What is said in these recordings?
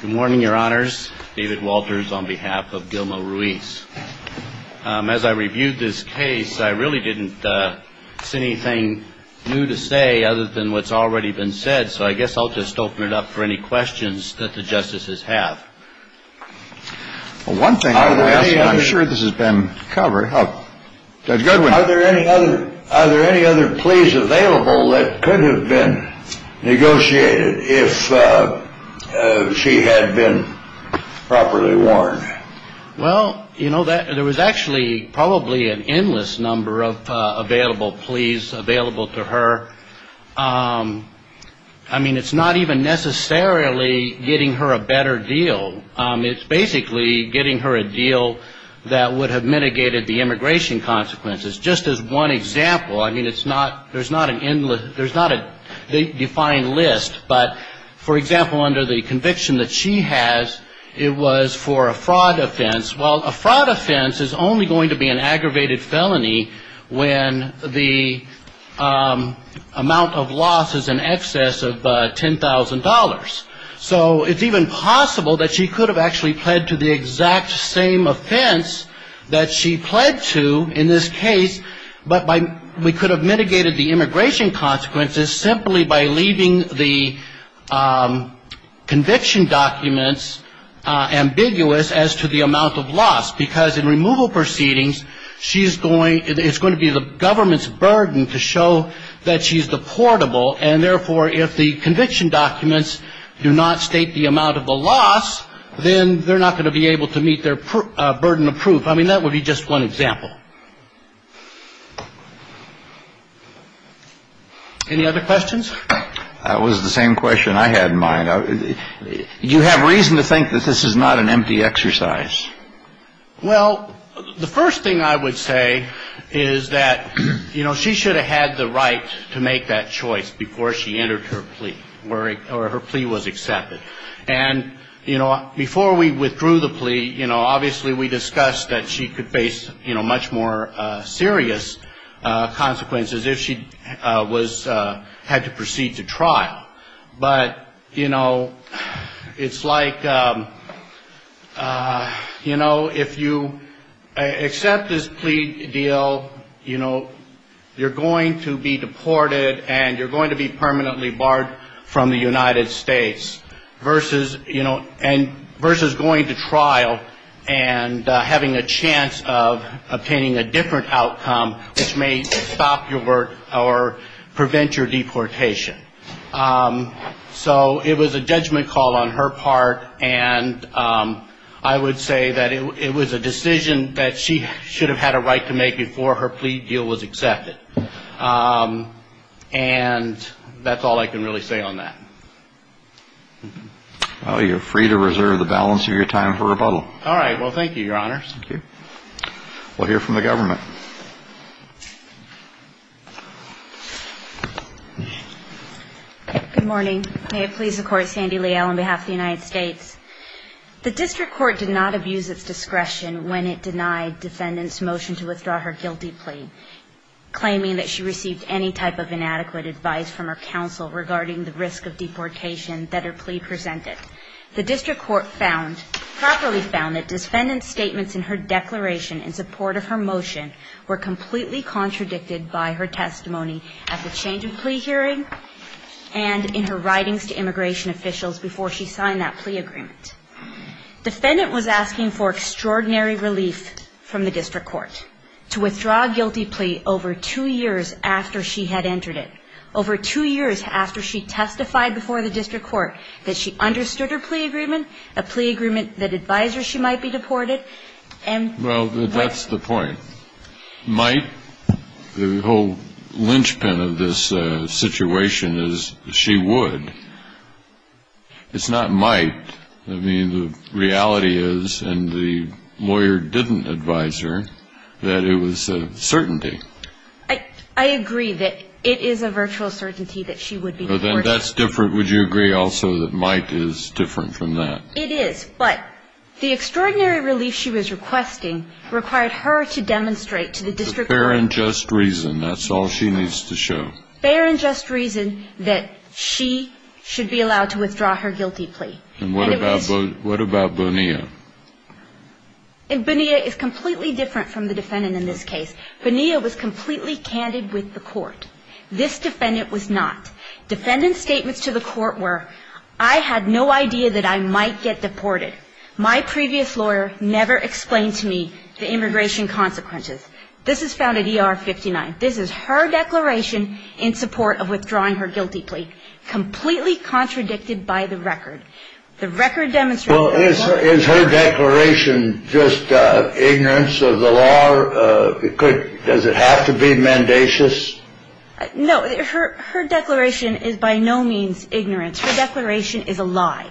Good morning, your honors. David Walters on behalf of Gilma Ruiz. As I reviewed this case, I really didn't see anything new to say other than what's already been said. So I guess I'll just open it up for any questions that the justices have. One thing I'm sure this has been covered. Are there any other pleas available that could have been negotiated if she had been properly warned? Well, you know, there was actually probably an endless number of available pleas available to her. I mean, it's not even necessarily getting her a better deal. It's basically getting her a deal that would have mitigated the immigration consequences. Just as one example, I mean, it's not, there's not an endless, there's not a defined list. But, for example, under the conviction that she has, it was for a fraud offense. Well, a fraud offense is only going to be an aggravated felony when the amount of loss is in excess of $10,000. So it's even possible that she could have actually pled to the exact same offense that she pled to in this case, but we could have mitigated the immigration consequences simply by leaving the conviction documents ambiguous as to the amount of loss. Because in removal proceedings, she's going, it's going to be the government's burden to show that she's deportable. And, therefore, if the conviction documents do not state the amount of the loss, then they're not going to be able to meet their burden of proof. I mean, that would be just one example. Any other questions? That was the same question I had in mind. Do you have reason to think that this is not an empty exercise? Well, the first thing I would say is that, you know, she should have had the right to make that choice before she entered her plea, or her plea was accepted. And, you know, before we withdrew the plea, you know, obviously we discussed that she could face, you know, much more serious consequences if she was, had to proceed to trial. But, you know, it's like, you know, if you accept this plea deal, you know, you're going to be deported and you're going to be permanently barred from the United States versus, you know, So it was a judgment call on her part. And I would say that it was a decision that she should have had a right to make before her plea deal was accepted. And that's all I can really say on that. Well, you're free to reserve the balance of your time for rebuttal. All right. Well, thank you, Your Honors. Thank you. We'll hear from the government. Good morning. May it please the Court, Sandy Leal on behalf of the United States. The district court did not abuse its discretion when it denied defendant's motion to withdraw her guilty plea, claiming that she received any type of inadequate advice from her counsel regarding the risk of deportation that her plea presented. The district court found, properly found that defendant's statements in her declaration in support of her motion were completely contradicted by her testimony at the change of plea hearing and in her writings to immigration officials before she signed that plea agreement. Defendant was asking for extraordinary relief from the district court to withdraw a guilty plea over two years after she had entered it, over two years after she testified before the district court that she understood her plea agreement, a plea agreement that advised her she might be deported. Well, that's the point. Might, the whole linchpin of this situation is she would. It's not might. I mean, the reality is, and the lawyer didn't advise her, that it was a certainty. I agree that it is a virtual certainty that she would be deported. But then that's different. Would you agree also that might is different from that? It is. But the extraordinary relief she was requesting required her to demonstrate to the district court. For fair and just reason. That's all she needs to show. Fair and just reason that she should be allowed to withdraw her guilty plea. And what about Bonilla? And Bonilla is completely different from the defendant in this case. Bonilla was completely candid with the court. This defendant was not. Defendant's statements to the court were, I had no idea that I might get deported. My previous lawyer never explained to me the immigration consequences. This is found at ER 59. This is her declaration in support of withdrawing her guilty plea, completely contradicted by the record. The record demonstrates. Is her declaration just ignorance of the law? Does it have to be mendacious? No. Her declaration is by no means ignorance. Her declaration is a lie.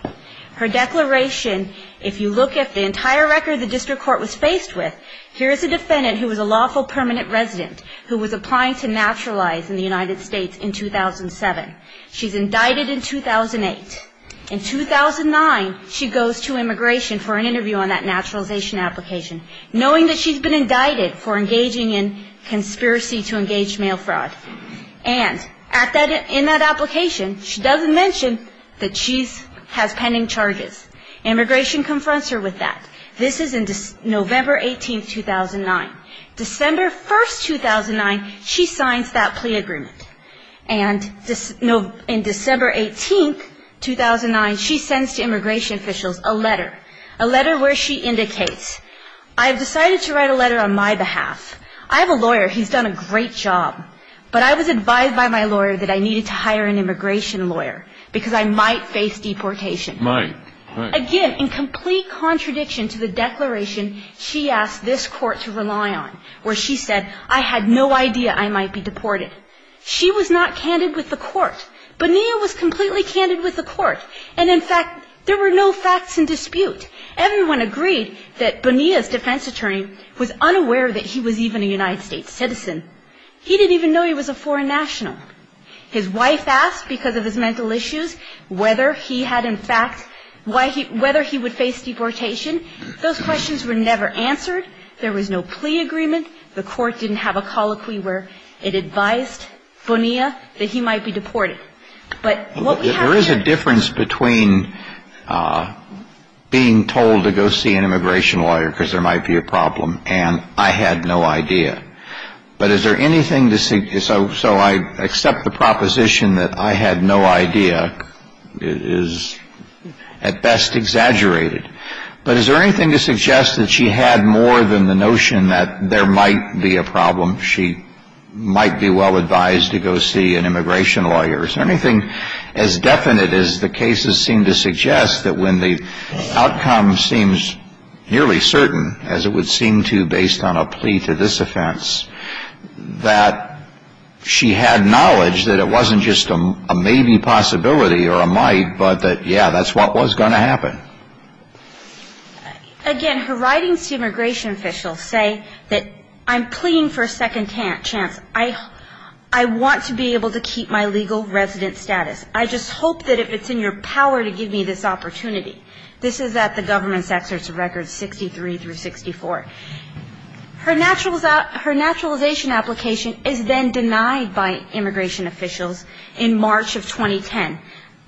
Her declaration, if you look at the entire record the district court was faced with, here is a defendant who was a lawful permanent resident who was applying to naturalize in the United States in 2007. She's indicted in 2008. In 2009, she goes to immigration for an interview on that naturalization application, knowing that she's been indicted for engaging in conspiracy to engage male fraud. And in that application, she doesn't mention that she has pending charges. Immigration confronts her with that. This is in November 18, 2009. December 1, 2009, she signs that plea agreement. And in December 18, 2009, she sends to immigration officials a letter. A letter where she indicates, I have decided to write a letter on my behalf. I have a lawyer. He's done a great job. But I was advised by my lawyer that I needed to hire an immigration lawyer because I might face deportation. Might. Again, in complete contradiction to the declaration she asked this court to rely on, where she said I had no idea I might be deported. She was not candid with the court. Bonilla was completely candid with the court. And, in fact, there were no facts in dispute. Everyone agreed that Bonilla's defense attorney was unaware that he was even a United States citizen. He didn't even know he was a foreign national. His wife asked, because of his mental issues, whether he had, in fact, whether he would face deportation. Those questions were never answered. There was no plea agreement. The court didn't have a colloquy where it advised Bonilla that he might be deported. But what we have here — There is a difference between being told to go see an immigration lawyer because there might be a problem and I had no idea. But is there anything to — so I accept the proposition that I had no idea is at best exaggerated. But is there anything to suggest that she had more than the notion that there might be a problem, she might be well advised to go see an immigration lawyer? Is there anything as definite as the cases seem to suggest that when the outcome seems nearly certain, as it would seem to based on a plea to this offense, that she had knowledge that it wasn't just a maybe possibility or a might, but that, yeah, that's what was going to happen? Again, her writings to immigration officials say that I'm pleading for a second chance. I want to be able to keep my legal resident status. I just hope that if it's in your power to give me this opportunity. This is at the government's excerpts of records 63 through 64. Her naturalization application is then denied by immigration officials in March of 2010,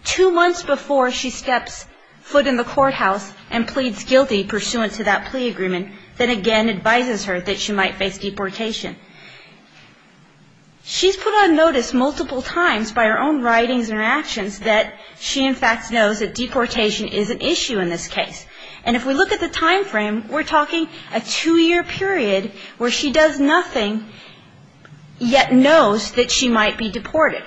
two months before she steps foot in the courthouse and pleads guilty pursuant to that plea agreement, then again advises her that she might face deportation. She's put on notice multiple times by her own writings and her actions that she, in fact, knows that deportation is an issue in this case. And if we look at the time frame, we're talking a two-year period where she does nothing, yet knows that she might be deported.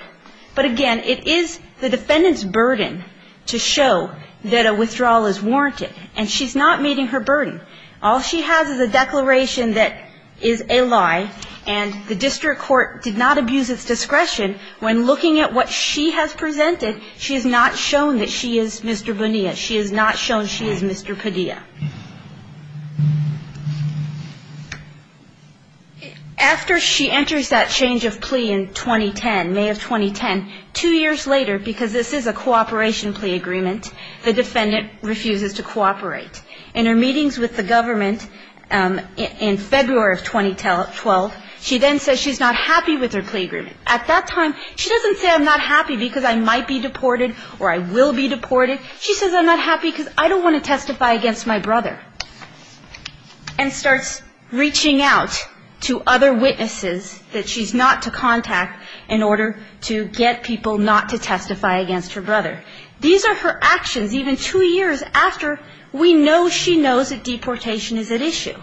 But again, it is the defendant's burden to show that a withdrawal is warranted, and she's not meeting her burden. All she has is a declaration that is a lie, and the district court did not abuse its discretion when looking at what she has presented, she has not shown that she is Mr. Bonilla. She has not shown that she is Mr. Padilla. After she enters that change of plea in 2010, May of 2010, two years later, because this is a cooperation plea agreement, the defendant refuses to cooperate. In her meetings with the government in February of 2012, she then says she's not happy with her plea agreement. At that time, she doesn't say I'm not happy because I might be deported or I will be deported. She says I'm not happy because I don't want to testify against my brother, and starts reaching out to other witnesses that she's not to contact in order to get people not to testify against her brother. These are her actions even two years after we know she knows that deportation is at issue.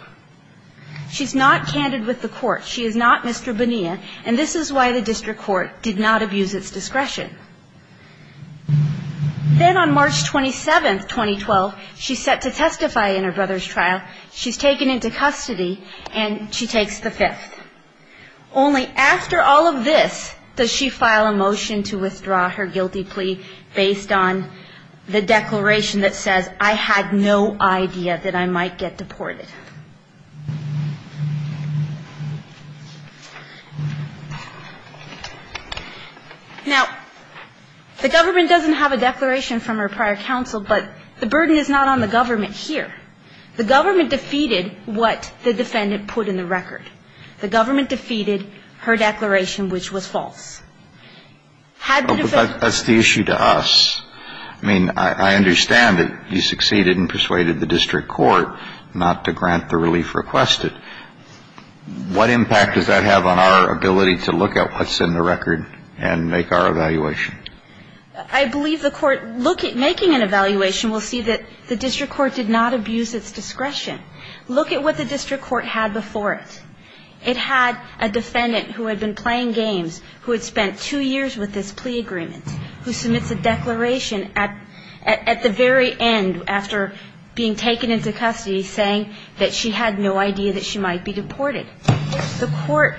She's not candid with the court. She is not Mr. Bonilla, and this is why the district court did not abuse its discretion. Then on March 27, 2012, she's set to testify in her brother's trial. She's taken into custody, and she takes the fifth. Only after all of this does she file a motion to withdraw her guilty plea based on the declaration that says, I had no idea that I might get deported. Now, the government doesn't have a declaration from her prior counsel, but the burden is not on the government here. The government defeated what the defendant put in the record. The government defeated her declaration, which was false. Had the defendant been able to testify against her brother, she would have been acquitted. But that's the issue to us. I mean, I understand that you succeeded in persuading the district court not to grant the relief requested. What impact does that have on our ability to look at what's in the record and make our evaluation? I believe the court making an evaluation will see that the district court did not abuse its discretion. Look at what the district court had before it. It had a defendant who had been playing games, who had spent two years with this plea agreement, who submits a declaration at the very end, after being taken into custody, saying that she had no idea that she might be deported. The court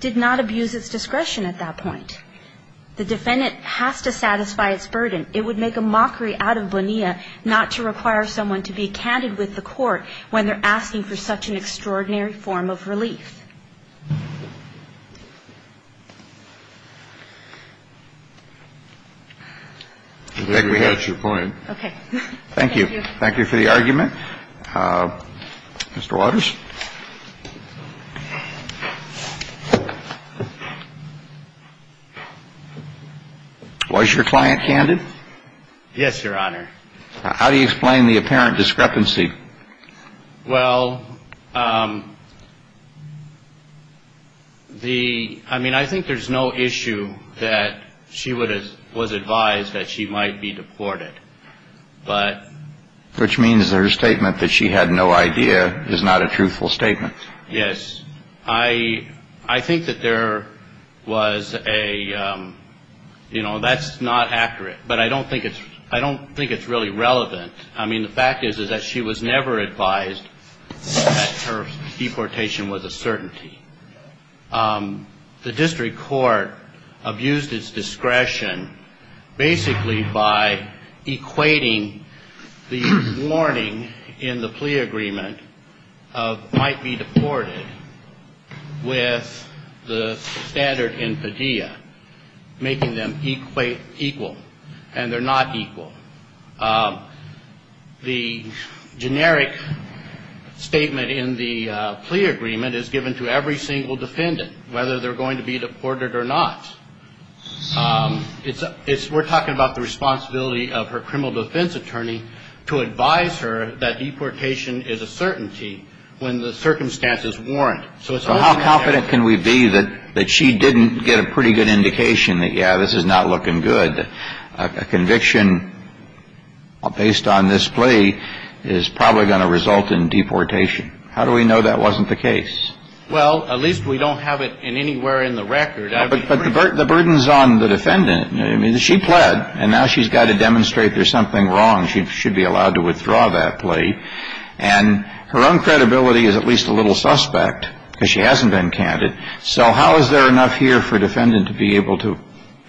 did not abuse its discretion at that point. The defendant has to satisfy its burden. It would make a mockery out of Bonilla not to require someone to be candid with the court when they're asking for such an extraordinary form of relief. I think we have your point. Okay. Thank you. Thank you for the argument. Mr. Waters. Was your client candid? Yes, Your Honor. How do you explain the apparent discrepancy? Well, I mean, I think there's no issue that she was advised that she might be deported. Which means her statement that she had no idea is not a truthful statement. Yes. I think that there was a, you know, that's not accurate. But I don't think it's really relevant. I mean, the fact is, is that she was never advised that her deportation was a certainty. The district court abused its discretion basically by equating the warning in the plea agreement of might be deported with the standard infidea, making them equal, and they're not equal. The generic statement in the plea agreement is given to every single defendant, whether they're going to be deported or not. We're talking about the responsibility of her criminal defense attorney to advise her that deportation is a certainty when the circumstances warrant. So how confident can we be that she didn't get a pretty good indication that, yeah, this is not looking good? And a conviction based on this plea is probably going to result in deportation. How do we know that wasn't the case? Well, at least we don't have it anywhere in the record. But the burden's on the defendant. I mean, she pled, and now she's got to demonstrate there's something wrong. She should be allowed to withdraw that plea. And her own credibility is at least a little suspect because she hasn't been counted. So how is there enough here for a defendant to be able to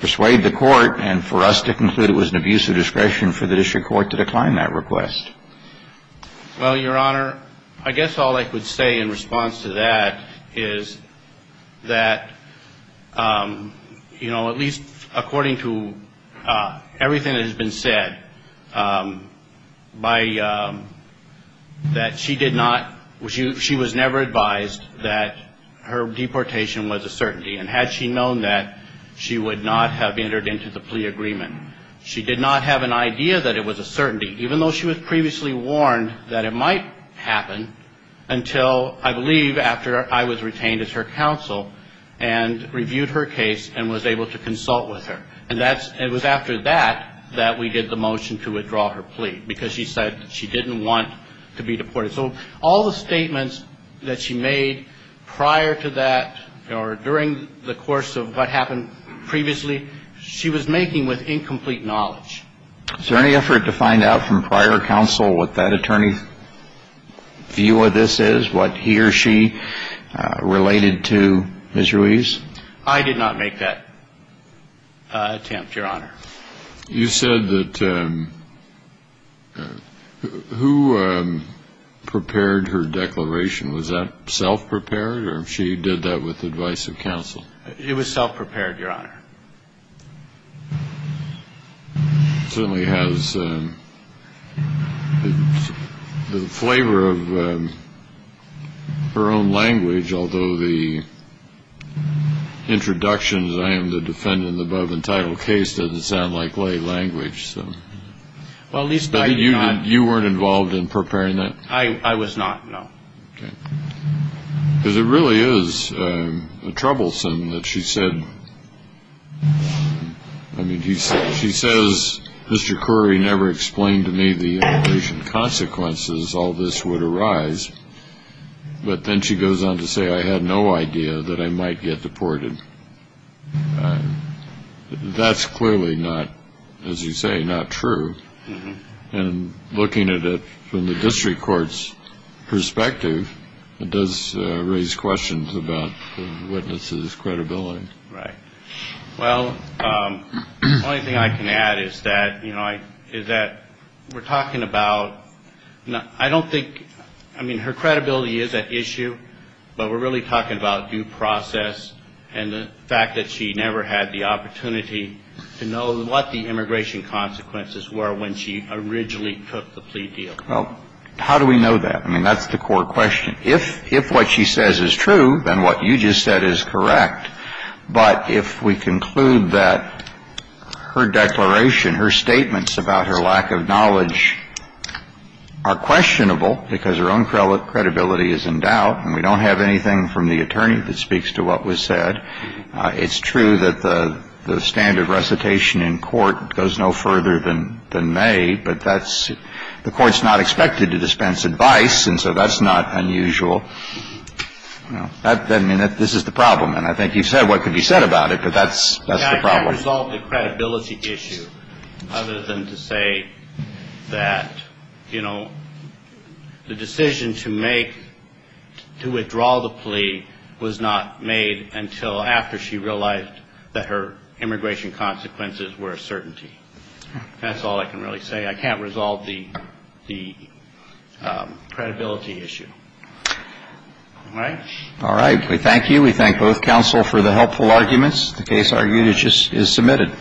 persuade the court and for us to conclude it was an abuse of discretion for the district court to decline that request? Well, Your Honor, I guess all I could say in response to that is that, you know, at least according to everything that has been said, that she did not, she was never advised that her deportation was a certainty. And had she known that, she would not have entered into the plea agreement. She did not have an idea that it was a certainty, even though she was previously warned that it might happen until, I believe, after I was retained as her counsel and reviewed her case and was able to consult with her. And that's, it was after that that we did the motion to withdraw her plea because she said she didn't want to be deported. So all the statements that she made prior to that or during the course of what happened previously, she was making with incomplete knowledge. Is there any effort to find out from prior counsel what that attorney's view of this is, what he or she related to Ms. Ruiz? I did not make that attempt, Your Honor. You said that, who prepared her declaration? Was that self-prepared or she did that with the advice of counsel? It was self-prepared, Your Honor. She certainly has the flavor of her own language, although the introductions, I am the defendant in the above-entitled case, doesn't sound like lay language. Well, at least I did not... You weren't involved in preparing that? I was not, no. Okay. Because it really is troublesome that she said... I mean, she says, Mr. Corey never explained to me the immigration consequences, all this would arise. But then she goes on to say, I had no idea that I might get deported. That's clearly not, as you say, not true. And looking at it from the district court's perspective, it does raise questions about the witness's credibility. Right. Well, the only thing I can add is that, you know, is that we're talking about... I don't think, I mean, her credibility is at issue, but we're really talking about due process, and the fact that she never had the opportunity to know what the immigration consequences were when she originally took the plea deal. Well, how do we know that? I mean, that's the core question. If what she says is true, then what you just said is correct. But if we conclude that her declaration, her statements about her lack of knowledge are questionable because her own credibility is in doubt, and we don't have anything from the attorney that speaks to what was said, it's true that the standard recitation in court goes no further than may, but that's... The court's not expected to dispense advice, and so that's not unusual. I mean, this is the problem, and I think you've said what could be said about it, but that's the problem. I can't resolve the credibility issue other than to say that, you know, the decision to make, to withdraw the plea, was not made until after she realized that her immigration consequences were a certainty. That's all I can really say. I can't resolve the credibility issue. All right? All right. We thank you. We thank both counsel for the helpful arguments. The case argued is submitted.